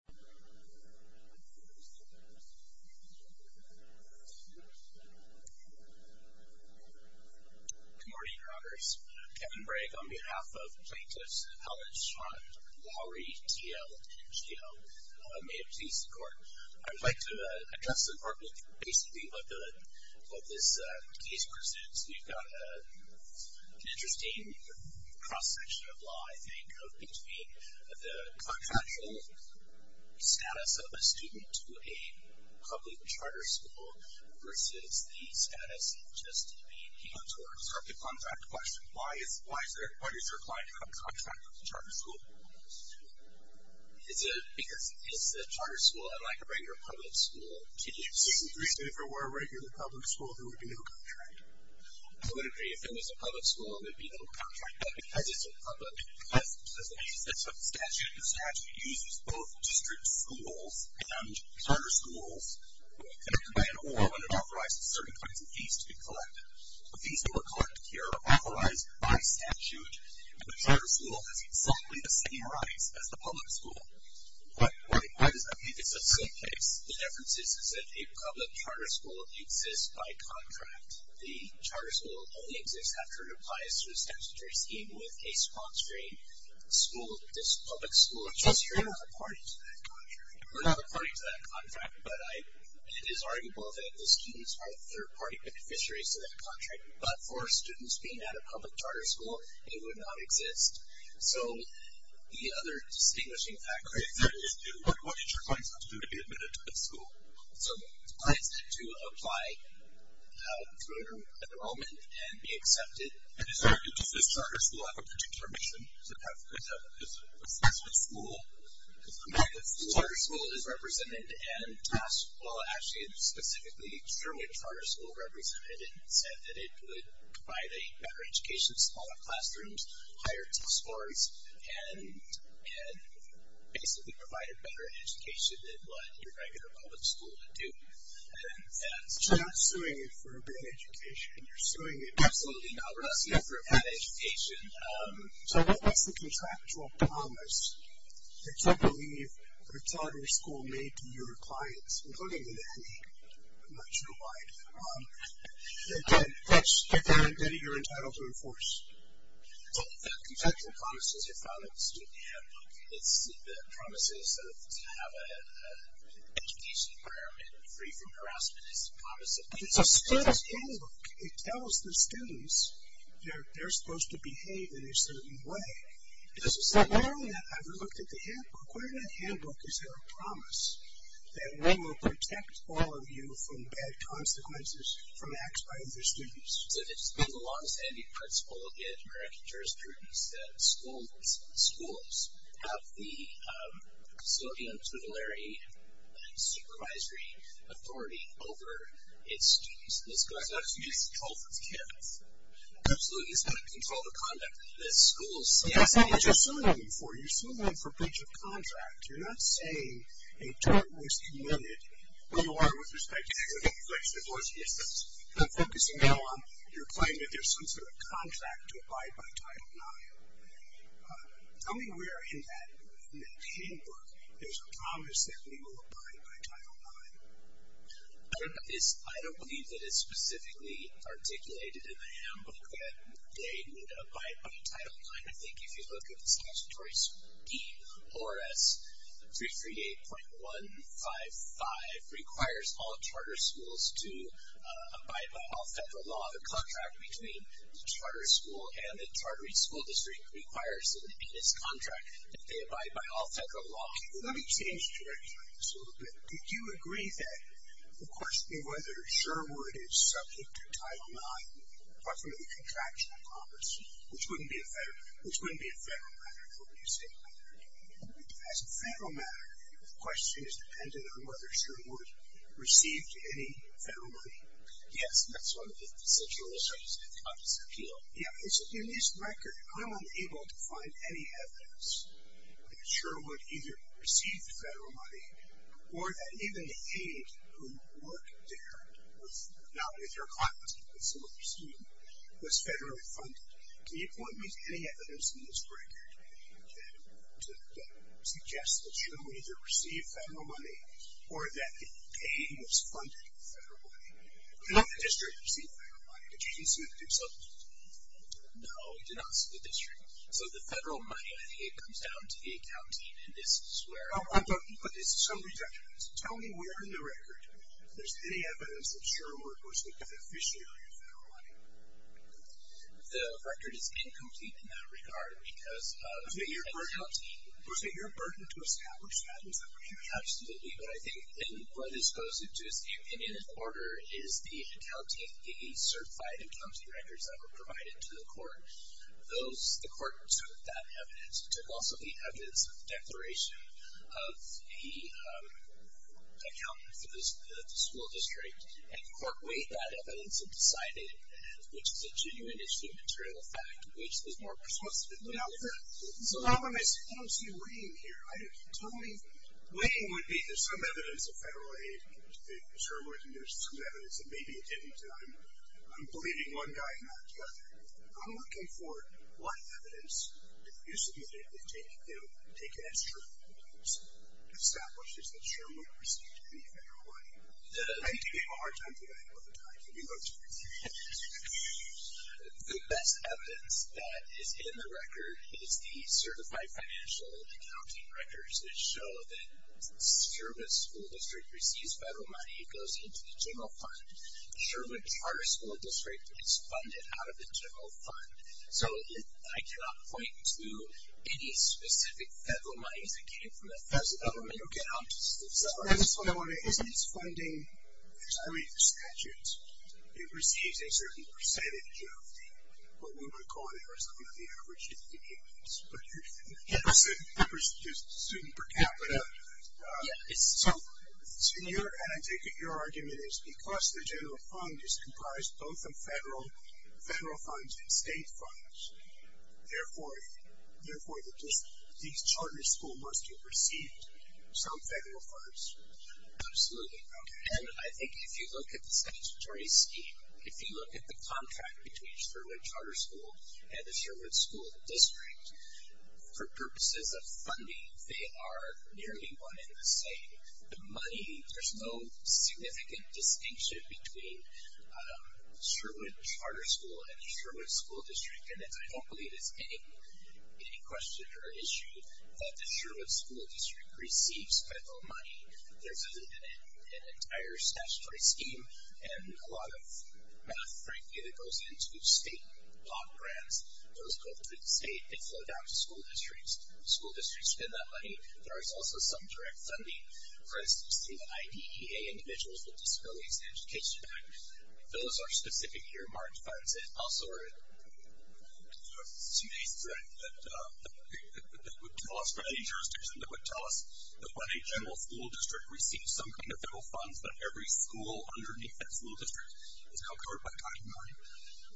Kevin Bragg, Plaintiff's Appellant, Lowry T.L. N.G.O. May it please the Court, I would like to address in part basically what this case presents. We've got an interesting cross-section of law, I think, of between the contractual status of a student to a public charter school versus the status of just a P.O.T. Why is there a contract with a charter school? Because it's a charter school, unlike a regular public school. Do you agree that if it were a regular public school, there would be no contract? I would agree. If it was a public school, there would be no contract. But because it's a public school, that's what the statute says. The statute uses both district schools and charter schools, connected by an order when it authorizes certain kinds of fees to be collected. The fees that were collected here are authorized by statute, and the charter school has exactly the same rights as the public school. Why does that make this a silly case? The difference is that a public charter school exists by contract. The charter school only exists after it applies to a statutory scheme with a sponsoring school, a public school. So you're not a party to that contract? But it is arguable that the students are third-party beneficiaries to that contract. But for students being at a public charter school, it would not exist. So the other distinguishing factor is that it's due. What does your client have to do to be admitted to this school? So the client has to apply for enrollment and be accepted. And does this charter school have a particular mission? Is it a specific school? The charter school is represented and asked, well, actually, specifically through which charter school represented it, said that it would provide a better education to smaller classrooms, higher test scores, and basically provide a better education than what your regular public school would do. So you're not suing it for a bad education. You're suing it for a bad education. So what's the contractual promise that you believe the charter school made to your clients, including to Danny? I'm not sure why. Danny, you're entitled to enforce. So the contractual promise is a file that the student had. The promise is to have an education environment free from harassment. It's a student's handbook. It tells the students they're supposed to behave in a certain way. Does it say that? I've looked at the handbook. Where in that handbook is there a promise that we will protect all of you from bad consequences, from acts by other students? It belongs to every principal in American jurisprudence that schools have the facility and supervisory authority over its students. So it's not just used to control for the kids? Absolutely. It's got to be controlled for conduct that schools see. I'm not just suing them for you. You're suing them for breach of contract. You're not saying a charter was committed unaligned with respect to academic inflection. I'm focusing now on your claim that there's some sort of contract to abide by Title IX. Tell me where in that handbook there's a promise that we will abide by Title IX. I don't believe that it's specifically articulated in the handbook that they need to abide by Title IX. I think if you look at the statutory scheme, ORS 338.155, requires all charter schools to abide by all federal law. The contract between the charter school and the charter school district requires that it be in its contract that they abide by all federal law. Let me change direction on this a little bit. Do you agree that the question of whether Sherwood is subject to Title IX, apart from the contractual promise, which wouldn't be a federal matter for me to say. As a federal matter, the question is dependent on whether Sherwood received any federal money. Yes, that's one of the essential issues of this appeal. In this record, I'm unable to find any evidence that Sherwood either received federal money, or that even the aid who worked there, not with her clients, but with some of her students, was federally funded. Can you point me to any evidence in this record that suggests that Sherwood either received federal money, or that the aid was funded federally? In the district, you received federal money. Did you receive it yourself? No, we did not receive it in the district. So the federal money, I think it comes down to the accounting, and this is where- Oh, I thought you put this. Somebody touched on this. Tell me where in the record there's any evidence that Sherwood was a beneficiary of federal money. The record is incomplete in that regard because- Was it your burden to establish that? Absolutely, but I think in what goes into his opinion, in order is the certified accounting records that were provided to the court. The court took that evidence. It took also the evidence of the declaration of the accountant for the school district, and the court weighed that evidence and decided, which is a genuine issue of material fact, which was more persuasive in the record. I don't see weighing here. Totally weighing would be there's some evidence of federal aid that Sherwood, and there's some evidence that maybe it didn't, and I'm believing one guy and not the other. I'm looking for what evidence, if you submit it, that take it as true and establishes that Sherwood received any federal money. I do have a hard time doing that all the time. The best evidence that is in the record is the certified financial accounting records that show that Sherwood School District receives federal money. It goes into the general fund. Sherwood Charter School District gets funded out of the general fund. So I cannot point to any specific federal monies that came from the federal government. Okay. That's what I wanted to ask. It's funding, as I read the statutes, it receives a certain percentage of what we would call the average of the incomes. But the percentage is student per capita. So your argument is because the general fund is comprised both of federal funds and state funds, therefore the charter school must have received some federal funds? Absolutely. And I think if you look at the statutory scheme, if you look at the contract between Sherwood Charter School and the Sherwood School District, for purposes of funding, they are nearly one in the same. The money, there's no significant distinction between Sherwood Charter School and the Sherwood School District, and I don't believe it's any question or issue that the Sherwood School District receives federal money. There's an entire statutory scheme and a lot of math, frankly, that goes into state law grants. Those go through the state and flow down to school districts. School districts spend that money. There is also some direct funding. For instance, the IDEA, Individuals with Disabilities Education Act, those are specific year-marked funds. And also there's a two-day thread that would tell us, for any jurisdiction, that would tell us that when a general school district receives some kind of federal funds, that every school underneath that school district is now covered by Title IX.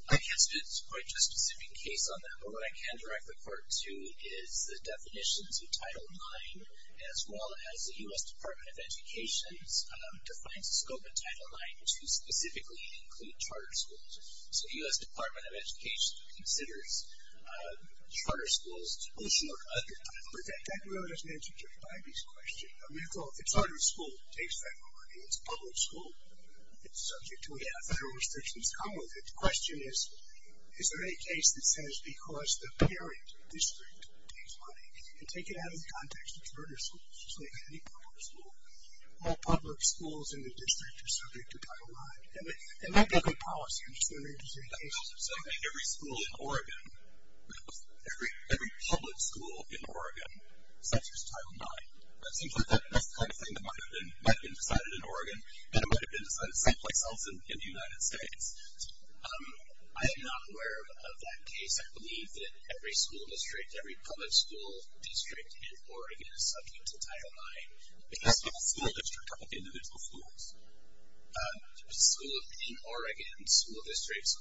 I can't speak to quite a specific case on that, but what I can direct the court to is the definitions of Title IX, as well as the U.S. Department of Education defines the scope of Title IX to specifically include charter schools. So the U.S. Department of Education considers charter schools, but that really doesn't answer Judge Bybee's question. A charter school takes federal money. It's a public school. It's subject to whatever federal restrictions come with it. The question is, is there any case that says because the parent district takes money, and take it out of the context of charter schools, just like any public school, all public schools in the district are subject to Title IX? It might be a good policy. I'm just going to read this again. Every school in Oregon, every public school in Oregon, subject to Title IX. It seems like that's the kind of thing that might have been decided in Oregon, and it might have been decided someplace else in the United States. I am not aware of that case. I believe that every school district, every public school district in Oregon is subject to Title IX. It has to be a school district of individual schools. There's a school in Oregon, school districts,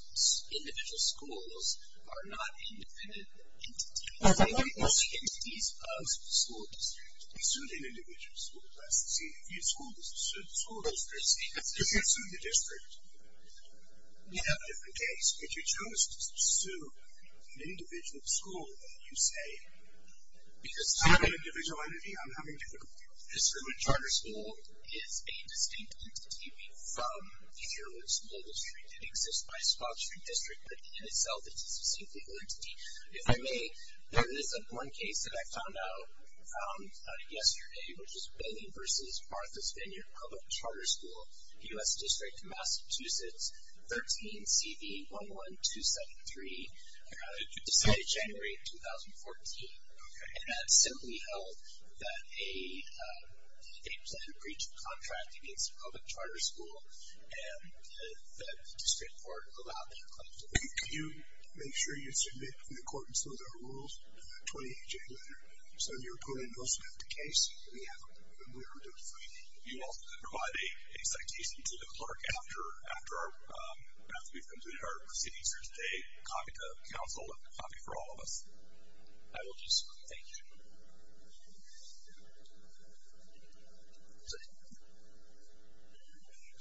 individual schools are not independent entities. They're independent entities of school districts. If you sue an individual school district, see, if you sue the school district, if you sue the district, you have a different case. If you chose to sue an individual school, you say, because I'm an individual entity, I'm having a difficult time. So a charter school is a distinct entity from the Herowood School District. It exists by a small district, but in itself, it's a distinct entity. If I may, there is one case that I found out yesterday, which is Benny v. Martha's Vineyard Public Charter School, U.S. District, Massachusetts, 13CV11273, decided January of 2014. And that simply held that a planned breach of contract against a public charter school and the district court allowed that claim to be made. Can you make sure you submit, in accordance with our rules, a 28-J letter? So if your opponent doesn't have the case, we have a way to do it for you. You also can provide a citation to the clerk after we've completed our proceedings here today, copy to counsel, and copy for all of us. I will do so. Thank you.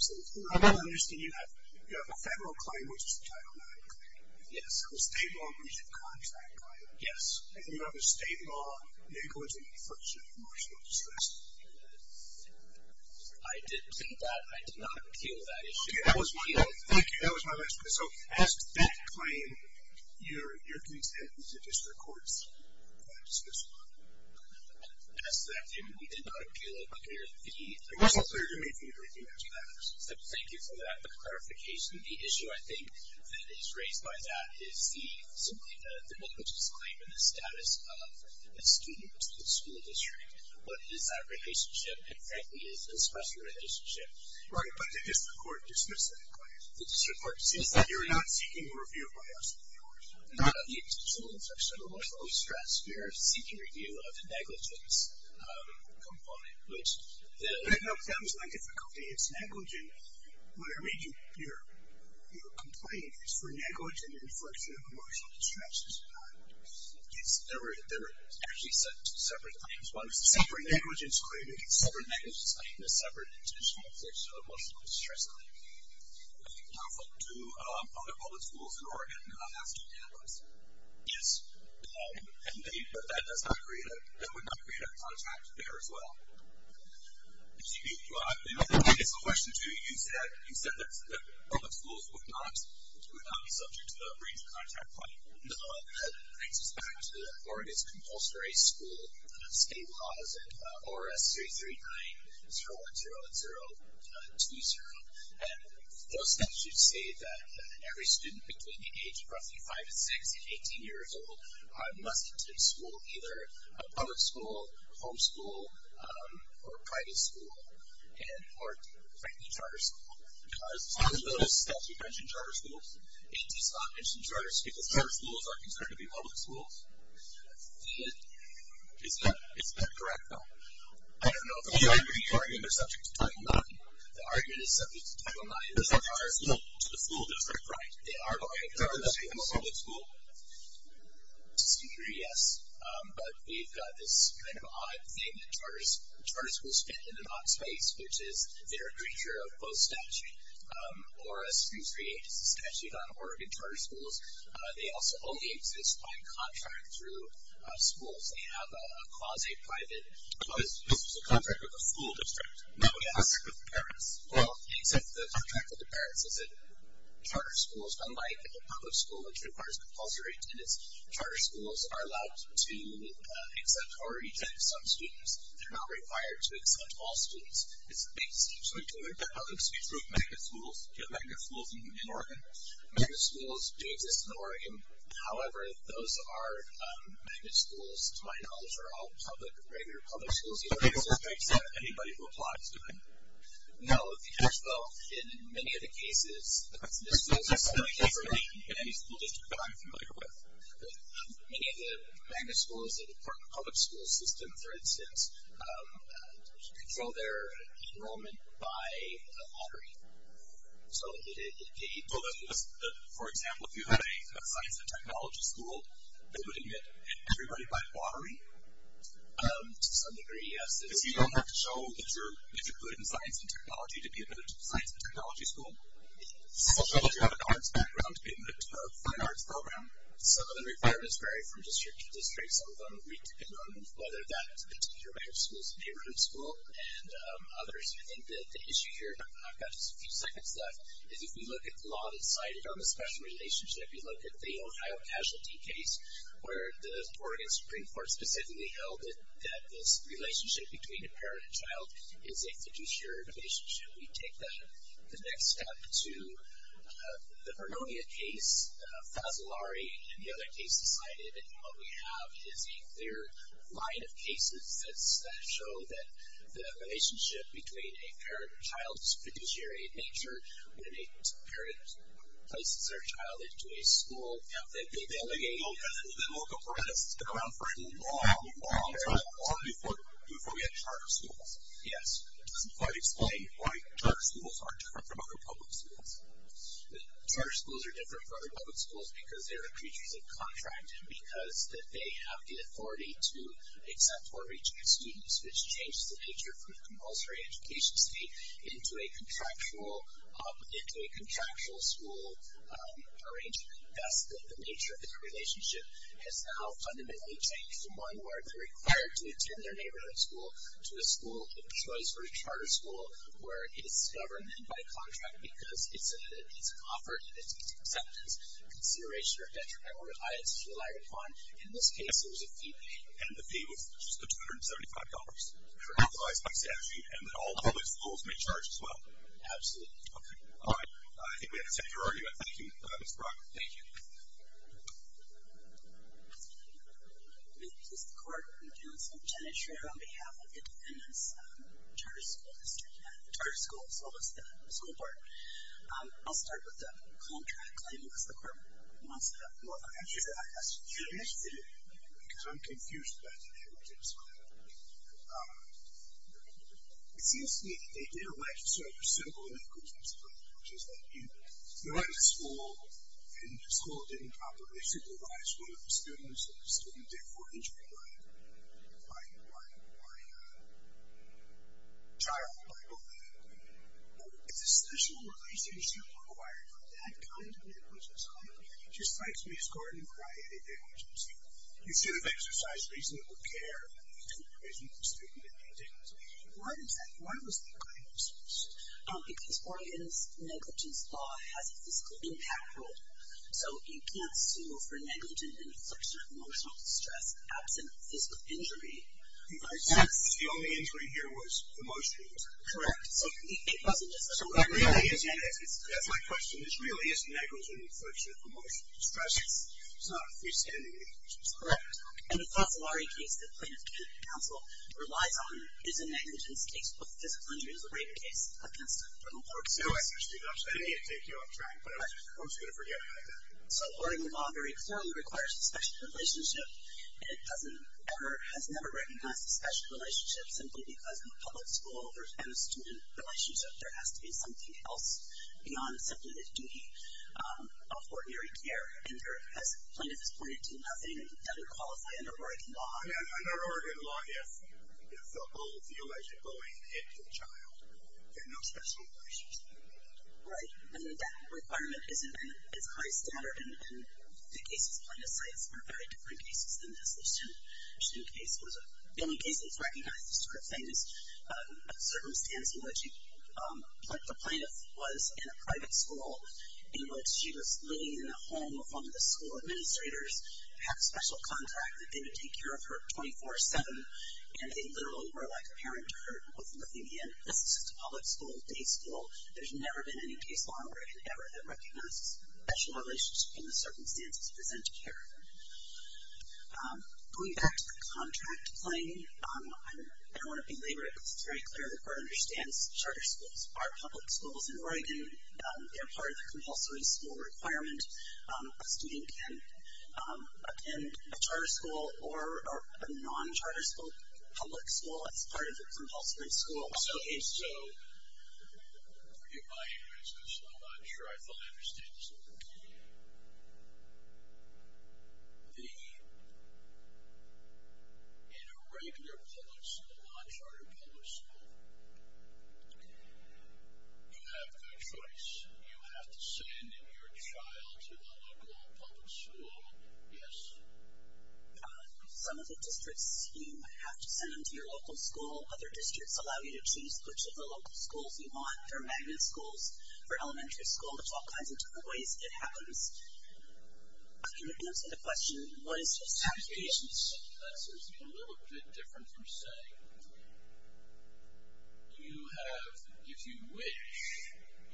I don't understand. You have a federal claim, which is a Title IX claim. Yes. A state law breach of contract claim. Yes. And you have a state law negligence in the first year of martial law distress. I did plead that. I did not appeal that issue. Okay. Thank you. That was my last question. So as to that claim, you're content with the district court's dismissal of it? As to that claim, we did not appeal it. Okay. It wasn't clear to me if anything else matters. Thank you for that clarification. The issue, I think, that is raised by that is simply the publicist's claim and the status of a student in the school district. What is that relationship? And frankly, it's a special relationship. Right. But the district court dismissed that claim. The district court dismissed that. You're not seeking a review of my lawsuit, are you? I'm not. Not the intentional inflection of emotional distress. You're seeking review of the negligence component. That was my difficulty. It's negligent. What I read your complaint is for negligent inflection of emotional distress. It's not. There were actually separate claims. Separate negligence claim. Separate negligence claim. I'm not seeking a separate intentional inflection of emotional distress claim. Do other public schools in Oregon have student analysts? Yes. But that would not create a contact there as well. It's a question to you. You said that public schools would not be subject to the range of contact claim. No. It brings us back to Oregon's compulsory school state laws, ORS 339010 and 020. And those statutes say that every student between the age of roughly 5 and 6 and 18 years old must attend school, either a public school, home school, or private school, or frankly, charter school. Because on the notice that you mentioned charter schools, it does not mention charter schools. Because charter schools are considered to be public schools. Is that correct, though? I don't know if I'm correct. You argued they're subject to Title IX. The argument is subject to Title IX. They're subject to the full district right. They are subject to the full district right. They are going to a public school. Yes. But we've got this kind of odd thing that charter schools fit in an odd space, which is they're a creature of both statute. ORS 3380 is a statute on Oregon charter schools. They also only exist by contract through schools. They have a quasi-private. This is a contract with the full district. No, yes. Except with the parents. Well, except the contract with the parents is that charter schools, unlike a public school which requires compulsory attendance, charter schools are allowed to accept or reject some students. They're not required to accept all students. It seems to me that that doesn't speak to magnet schools. Do you have magnet schools in Oregon? Magnet schools do exist in Oregon. However, those are magnet schools, to my knowledge, are all regular public schools in Oregon. Does that make sense? Anybody who applies to them? No, because, though, in many of the cases, the schools are separate from any school district that I'm familiar with. Many of the magnet schools that are part of the public school system, for instance, control their enrollment by lottery. So, for example, if you had a science and technology school, they would admit everybody by lottery? To some degree, yes. So you don't have to show that you're good in science and technology to be admitted to the science and technology school? Does your school have an arts background in the fine arts program? Some of the requirements vary from district to district. Some of them depend on whether that particular magnet school is a neighborhood school and others. I think that the issue here, and I've got just a few seconds left, is if we look at the law that's cited on the special relationship, you look at the Ohio casualty case, where the Oregon Supreme Court specifically held that this relationship between a parent and child is a fiduciary relationship. We take that the next step to the Parnonia case, Fasolari, and the other case cited, and what we have is a clear line of cases that show that the relationship between a parent and child is a fiduciary nature when a parent places their child into a school. The local parents get around for a long, long time before they get charter schools. Yes. It doesn't quite explain why charter schools are different from other public schools. Charter schools are different from other public schools because they are creatures of contract and because they have the authority to accept or reject students, which changes the nature of compulsory education state into a contractual school arrangement. Thus, the nature of the relationship has now fundamentally changed from one where they're required to attend their neighborhood school to a school of choice or a charter school where it is governed by a contract because it's an offer, and it's an acceptance, consideration, or detriment, or it's relied upon. In this case, there was a fee paid. And the fee was just the $275 that was authorized by statute, and that all public schools may charge as well. Absolutely. Okay. All right. I think we have to end our argument. Thank you, Mr. Brock. Thank you. Thank you. This is the clerk from the Council. I'm Jenna Schrader on behalf of Independence Charter School District, the charter school as well as the school board. I'll start with the contract claim because the clerk wants to know if I answered that question. Yes, you did. Because I'm confused about the nature of the school. It seems to me that they didn't legislate for civil and equity discipline, which is that you run the school, and the school didn't properly supervise one of the students, and the student did four-injury by trial, by oath. Is a special relationship required for that kind of negligence? It just strikes me as corny when I edit negligence. You should have exercised reasonable care to imprison the student if you didn't. Why was that claim dismissed? Because Oregon's negligence law has a physical impact rule, so you can't sue for negligent inflection of emotional distress absent physical injury. The only injury here was emotional. Correct. It wasn't just emotional. That's my question. This really is negligent inflection of emotional distress. It's not a freestanding injury. Correct. And the Fasolari case that plaintiff can't counsel relies on is a negligence case, but the physical injury is a greater case against a criminal court case. No, I understand. I didn't mean to take you off track, but I was just going to forget about that. So Oregon law very clearly requires a special relationship, and it has never recognized a special relationship simply because in a public school and a student relationship there has to be something else beyond simply this duty of ordinary care. And as plaintiff has pointed to, nothing doesn't qualify under Oregon law. Under Oregon law, yes. It's a whole deal as you're going into a child. There are no special relations. Right. And that requirement isn't as high standard in the cases plaintiff cites. They're very different cases than this. The only case that's recognized this sort of thing is a circumstance in which the plaintiff was in a private school in which she was living in the home of one of the school administrators, had a special contract that they would take care of her 24-7, and they literally were like a parent to her with Lithuania. This is just a public school, a day school. There's never been any case law in Oregon ever that recognizes special relationships in the circumstances presented here. Going back to the contract claim, I don't want to belabor it, but it is part of the compulsory school requirement. A student can attend a charter school or a non-charter school, public school as part of the compulsory school. So in a regular public school, a non-charter public school, you have no choice. You have to send your child to the local public school, yes? Some of the districts, you have to send them to your local school. Other districts allow you to choose which of the local schools you want, for magnet schools, for elementary school, there's all kinds of different ways it happens. Can you answer the question, what is this application? That's a little bit different from saying you have, if you wish,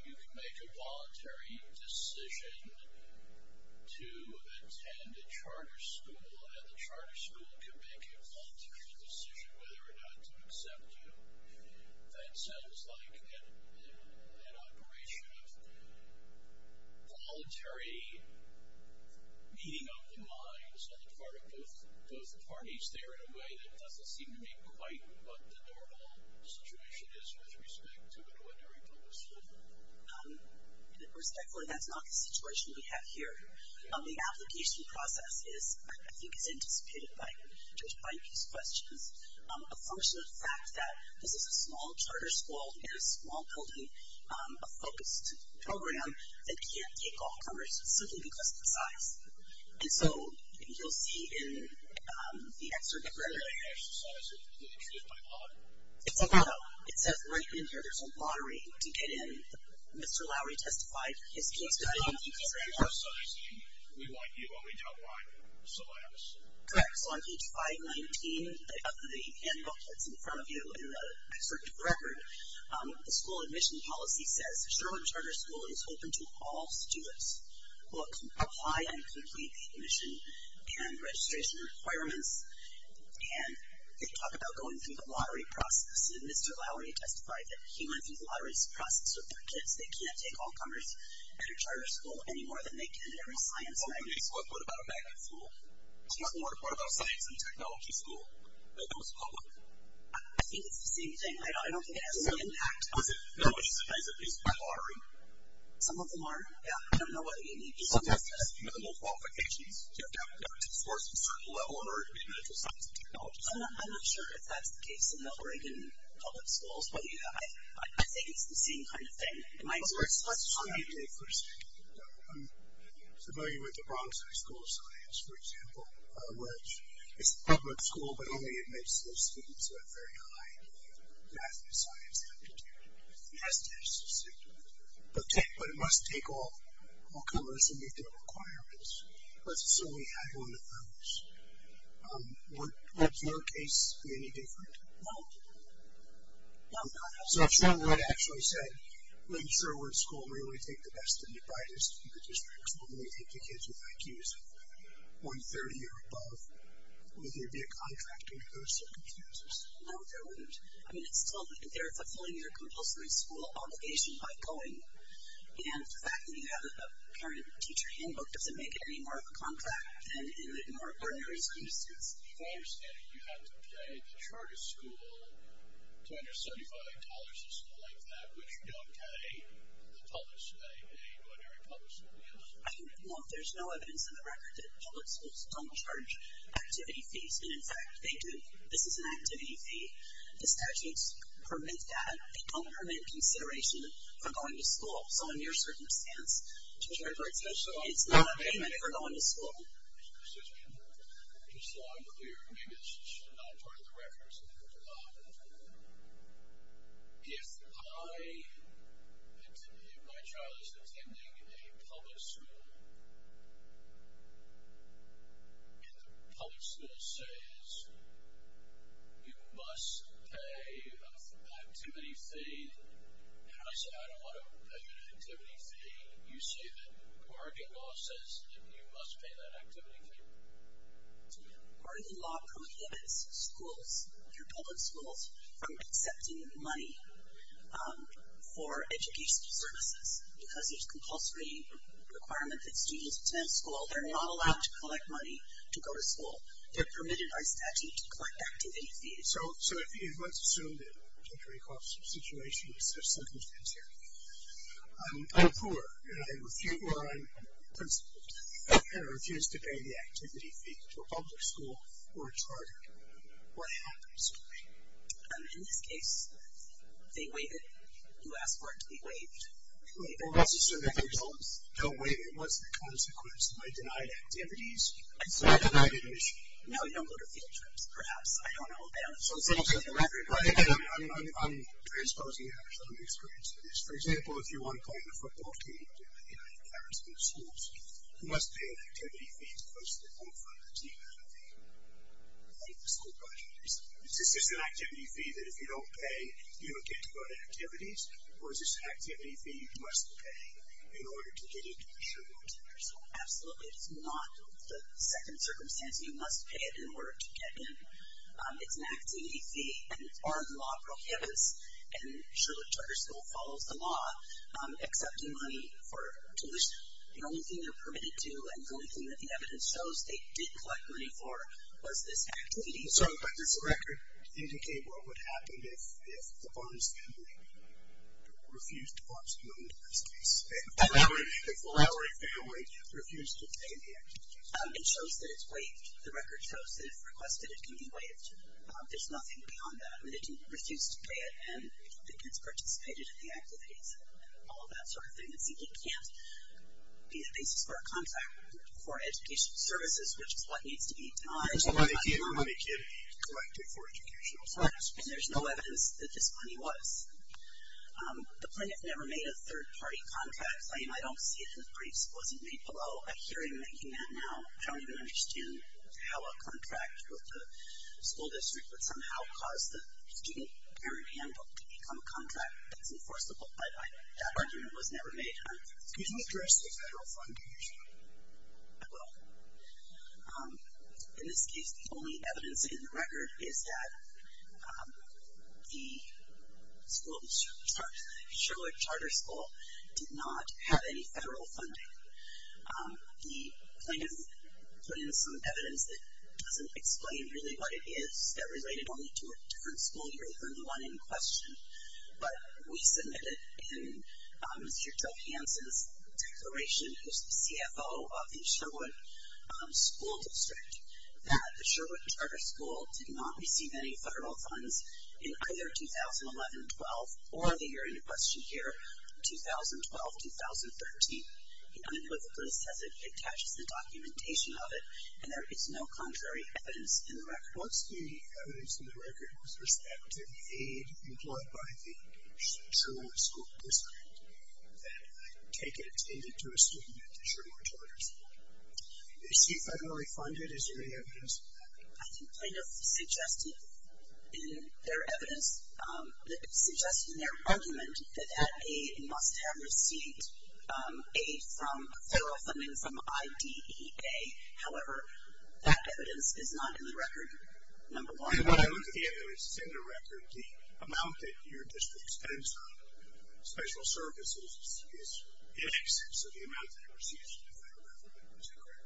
you can make a voluntary decision to attend a charter school, and the charter school can make a voluntary decision whether or not to accept you. That sounds like an operation of the voluntary meeting of the minds on the part of both parties there in a way that doesn't seem to be quite what the normal situation is with respect to an ordinary public school. And, of course, that's not the situation we have here. The application process is, I think, is anticipated by Judge Mike's questions, a function of the fact that this is a small charter school in a small building, a focused program that can't take all comers simply because of the size. And so you'll see in the excerpt that we're going to hear, it says right in here, there's a lottery to get in. Mr. Lowery testified his case was not in the program. We want you and we don't want celebs. Correct. So on page 519 of the handbook that's in front of you in the excerpt of the record, the school admission policy says, Sherwin Charter School is open to all students who apply and complete the admission and registration requirements. And they talk about going through the lottery process. Mr. Lowery testified that he went through the lottery process with their kids. They can't take all comers at a charter school any more than they can at a science. What about a math school? What about a science and technology school that goes public? I think it's the same thing. I don't think it has any impact. Is it by lottery? Some of them are. Yeah. I don't know what you mean. Some test has minimal qualifications. You have to have a doctorate scores of a certain level in order to be admitted to a science and technology school. I'm not sure if that's the case in the Oregon public schools. I think it's the same kind of thing. Let's try it. I'm familiar with the Bronx High School of Science, for example, which is a public school, but only admits those students who have very high math and science aptitude. It has tests, essentially. But it must take all comers and meet their requirements. Let's assume we had one of those. Would your case be any different? No. No, not at all. So if someone were to actually say, well, I'm sure we're in school where you only take the best and the brightest, you could just make us only take the kids with IQs of 130 or above, would there be a contract under those circumstances? No, there wouldn't. I mean, they're fulfilling their compulsory school obligation by going, and the fact that you have a parent-teacher handbook doesn't make it any more of a contract than in the more ordinary circumstances. If I understand it, you have to pay the charter school $275 or something like that, which you don't pay the public school, they pay what every public school is. I don't know if there's no evidence in the record that public schools don't charge activity fees, and, in fact, they do. This is an activity fee. The statutes permit that. They don't permit consideration of going to school. So in your circumstance, it's not a payment for going to school. Just so I'm clear, maybe this is not part of the record, but if my child is attending a public school, and the public school says you must pay an activity fee, and I say I don't want to pay an activity fee, you say that according to law it says you must pay that activity fee. According to law prohibits schools, your public schools, from accepting money for educational services because there's a compulsory requirement that students attend school. They're not allowed to collect money to go to school. They're permitted by statute to collect activity fees. So let's assume that, just to recall the situation, I'm poor, and I refuse to pay the activity fee to a public school or a charter school. What happens to me? In this case, they waive it. You ask for it to be waived. It wasn't a consequence of my denied activities. It's not a denied admission. No, you don't go to field trips, perhaps. I don't know. I'm transposing. I have some experience with this. For example, if you want to play in a football team, you know, in parents' new schools, you must pay an activity fee to close the door for the team that the school project is. Is this an activity fee that if you don't pay, you don't get to go to activities, or is this an activity fee you must pay in order to get admission to your school? Absolutely. It's not the second circumstance. You must pay it in order to get in. It's an activity fee, and the law prohibits, and Sherwood Charter School follows the law, accepting money for tuition. The only thing they're permitted to, and the only thing that the evidence shows they did collect money for, was this activity fee. But does the record indicate what would happen if the Barnes family refused to participate in this case, if the Lowry family refused to pay the activity fee? It shows that it's waived. The record shows that if requested, it can be waived. There's nothing beyond that. I mean, they didn't refuse to pay it, and the kids participated in the activities, and all of that sort of thing. It can't be the basis for a contract for educational services, which is what needs to be denied. And there's no evidence that this money was. The plaintiff never made a third-party contract claim. I don't see it in the briefs. It wasn't made below. I hear him making that now. I don't even understand how a contract with the school district would somehow cause the student parent handbook to become a contract that's enforceable. But that argument was never made. Can you address the federal funding issue? I will. In this case, the only evidence in the record is that the school, the Sherwood Charter School, did not have any federal funding. The plaintiff put in some evidence that doesn't explain really what it is, that related only to a different school year than the one in question. But we submitted in Mr. Joe Hanson's declaration, who's the CFO of the Sherwood School District, that the Sherwood Charter School did not receive any federal funds in either 2011-12 or the year in question here, 2012-2013. The unemployment list attaches the documentation of it, and there is no contrary evidence in the record. What's the evidence in the record with respect to the aid employed by the Sherwood School District that I take it attended to a student at the Sherwood Charter School? Is she federally funded? Is there any evidence of that? The plaintiff suggested in their evidence, suggested in their argument that that aid must have received aid from federal funding from IDEA. However, that evidence is not in the record, number one. When I look at the evidence that's in the record, the amount that your district spends on special services is in excess of the amount that receives federal funding, is that correct?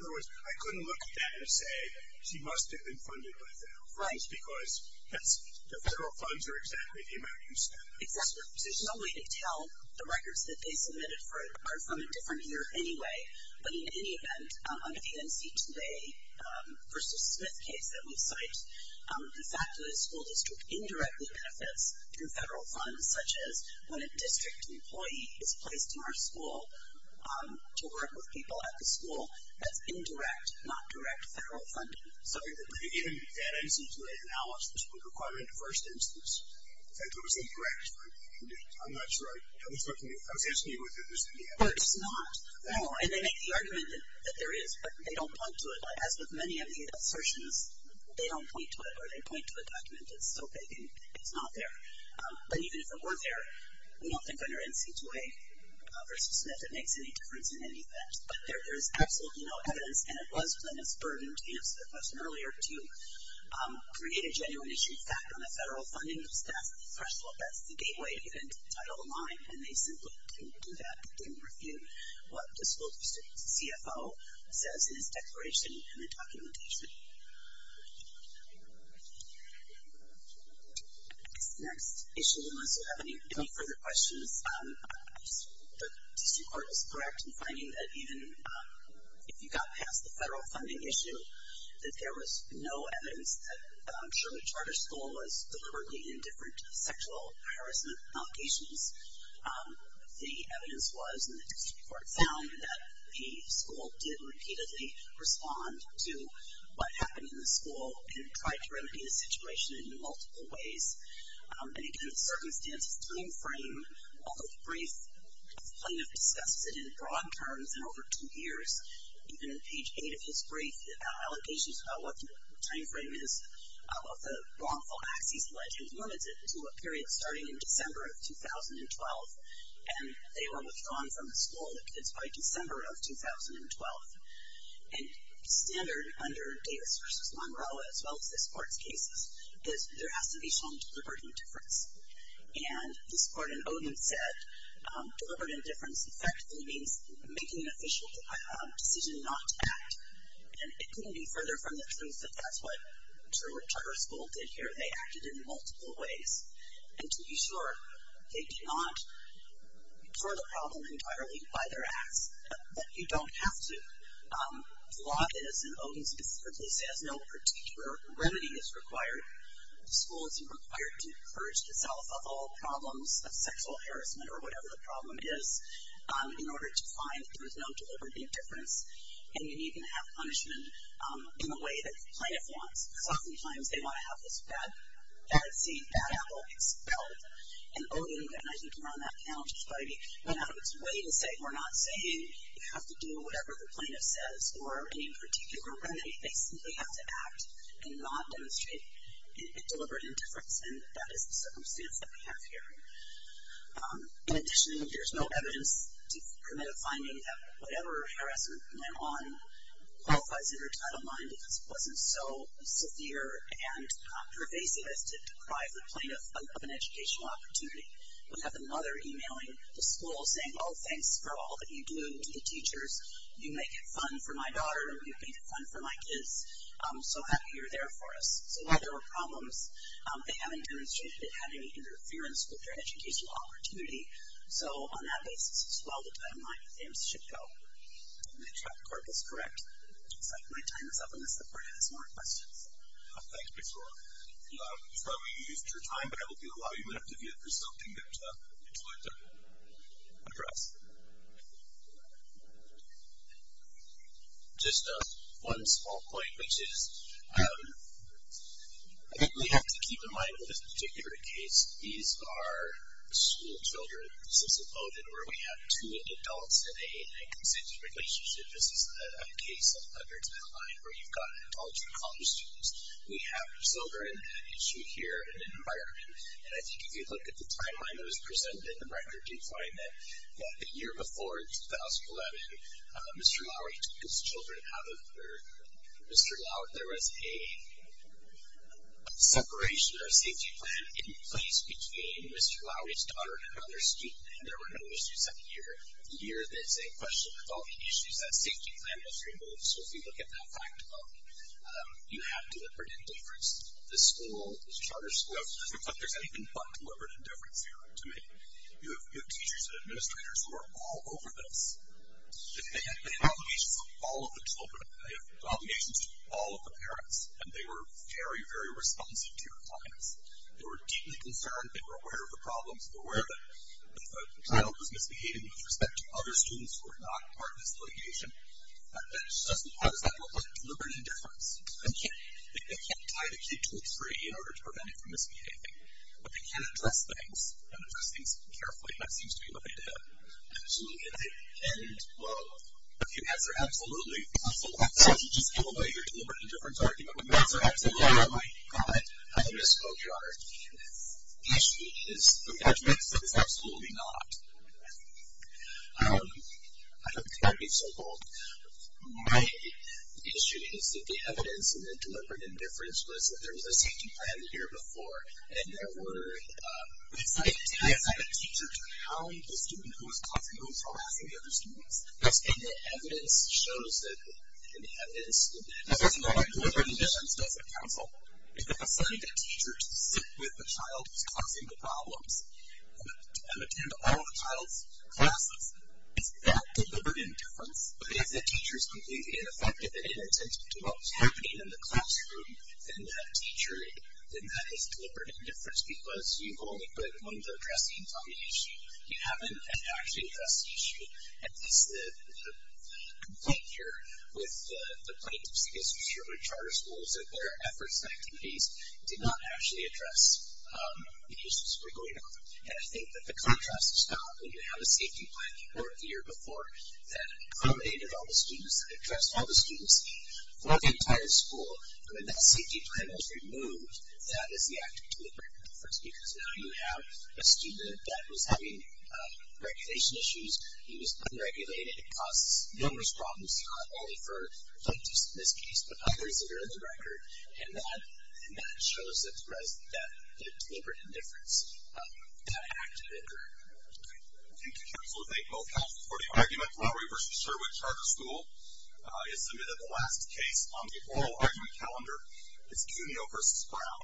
In other words, I couldn't look at that and say, she must have been funded by federal funds, because the federal funds are exactly the amount you spent. Exactly. There's no way to tell the records that they submitted are from a different year anyway. But in any event, under the NC2A versus Smith case that we cite, the fact that a school district indirectly benefits through federal funds, such as when a district employee is placed in our school to work with the school, that's indirect, not direct federal funding. Sorry, but even that NC2A analysis would require a diverse instance. In fact, it was indirect. I'm not sure I was answering you with it. It's not. No, and they make the argument that there is, but they don't point to it. As with many of the assertions, they don't point to it, or they point to a document that's so vague it's not there. But even if it were there, we don't think under NC2A versus Smith, it makes any difference in any event. But there is absolutely no evidence, and it was Plano's burden to answer the question earlier, to create a genuine issue based on the federal funding, because that's the threshold, that's the gateway into the title line, and they simply didn't do that. They didn't refute what the school district CFO says in his declaration and the documentation. Next issue, unless you have any further questions, the district court is correct in finding that even if you got past the federal funding issue, that there was no evidence that Sherman Charter School was deliberately indifferent to sexual harassment allegations. The evidence was, and the district court found, that the school did repeatedly respond to what happened in the school and tried to remedy the situation in multiple ways. And, again, the circumstances timeframe of the brief, Plano discussed it in broad terms in over two years. Even in page eight of his brief, the allegations about what the timeframe is of the wrongful axes led him limited to a period starting in December of 2012, and they were withdrawn from the school, the kids, by December of 2012. And standard under Davis versus Monroe, as well as the sports cases, is there has to be some deliberate indifference. And this court in Oden said deliberate indifference effectively means making an official decision not to act. And it couldn't be further from the truth that that's what Sherman Charter School did here. They acted in multiple ways. And to be sure, they do not throw the problem entirely by their axe, but you don't have to. And Oden specifically says no particular remedy is required. The school is required to purge itself of all problems of sexual harassment or whatever the problem is in order to find that there was no deliberate indifference. And you need to have punishment in the way that the plaintiff wants. Because oftentimes they want to have this bad seed, bad apple expelled. And Oden, and I think you were on that panel, went out of its way to say we're not saying you have to do whatever the plaintiff wants. We're saying no particular remedy. They simply have to act and not demonstrate deliberate indifference. And that is the circumstance that we have here. In addition, there's no evidence to permit a finding that whatever harassment went on qualifies in her title line because it wasn't so severe and pervasive as to deprive the plaintiff of an educational opportunity. We have the mother emailing the school saying, oh, thanks for all that you do to the teachers. You make it fun for my daughter and you make it fun for my kids. I'm so happy you're there for us. So while there are problems, they haven't demonstrated it had any interference with their educational opportunity. So on that basis as well, the time line should go. I think Dr. Karp is correct. My time is up on this. The board has more questions. Thanks, Ms. Warren. I'm sorry we used your time, but I will allow you a minute to view it if there's something that you'd like to address. Just one small point, which is I think we have to keep in mind with this particular case, these are school children, since we voted, where we have two adults in a consensual relationship. This is a case under Title IX where you've got an adult and college students. We have children, an issue here, and an environment. And I think if you look at the timeline that was presented, and the record, you find that the year before, 2011, Mr. Lowery took his children out of birth. Mr. Lowery, there was a separation or a safety plan in place between Mr. Lowery's daughter and another student, and there were no issues that year. The year that's in question, with all the issues, that safety plan was removed. So if you look at that fact book, you have deliberate interference. The school, the charter school, it doesn't look like there's anything but deliberate interference here to me. You have teachers and administrators who are all over this. They have obligations to all of the children. They have obligations to all of the parents, and they were very, very responsive to your clients. They were deeply concerned. They were aware of the problems, aware that if a child was misbehaving with respect to other students who were not part of this litigation, it doesn't look like deliberate interference. They can't tie the kid to a tree in order to prevent it from misbehaving, but they can address things, and address things carefully, and that seems to be what they did. Absolutely, and, well, if you answer absolutely, if you answer absolutely, just give away your deliberate interference argument. If you answer absolutely, my God, I'm in a smoke yard. The issue is, the judgment is that it's absolutely not. I don't think I can be so bold. My issue is that the evidence in the deliberate interference was that there was a safety plan here before, and there were, if I assign a teacher to hound the student who was causing, who was harassing the other students, and the evidence shows that, and the evidence, as I said before, deliberate interference doesn't counsel. If the facility had teachers sit with the child who's causing the problems, and attend all of the child's classes, is that deliberate interference? But if the teacher is completely ineffective, and inattentive to what was happening in the classroom, then that teacher, then that is deliberate interference, because you've only put one of the addressing on the issue. You haven't actually addressed the issue, and this, the complaint here with the plaintiffs, I guess, which are charter schools, that their efforts and activities did not actually address the issues that were going on, and I think that the contrast is found. When you have a safety plan, or the year before, that accommodated all the students, that addressed all the students, throughout the entire school, when that safety plan is removed, that is the act of deliberate interference, because now you have a student that was having regulation issues. He was unregulated. It caused numerous problems, not only for plaintiffs in this case, but others that are in the record, and that shows that deliberate interference, that act of interference. I'd like to thank both health for the argument. Lowery v. Sherwood Charter School is submitted the last case on the oral argument calendar. It's Cuneo v. Brown.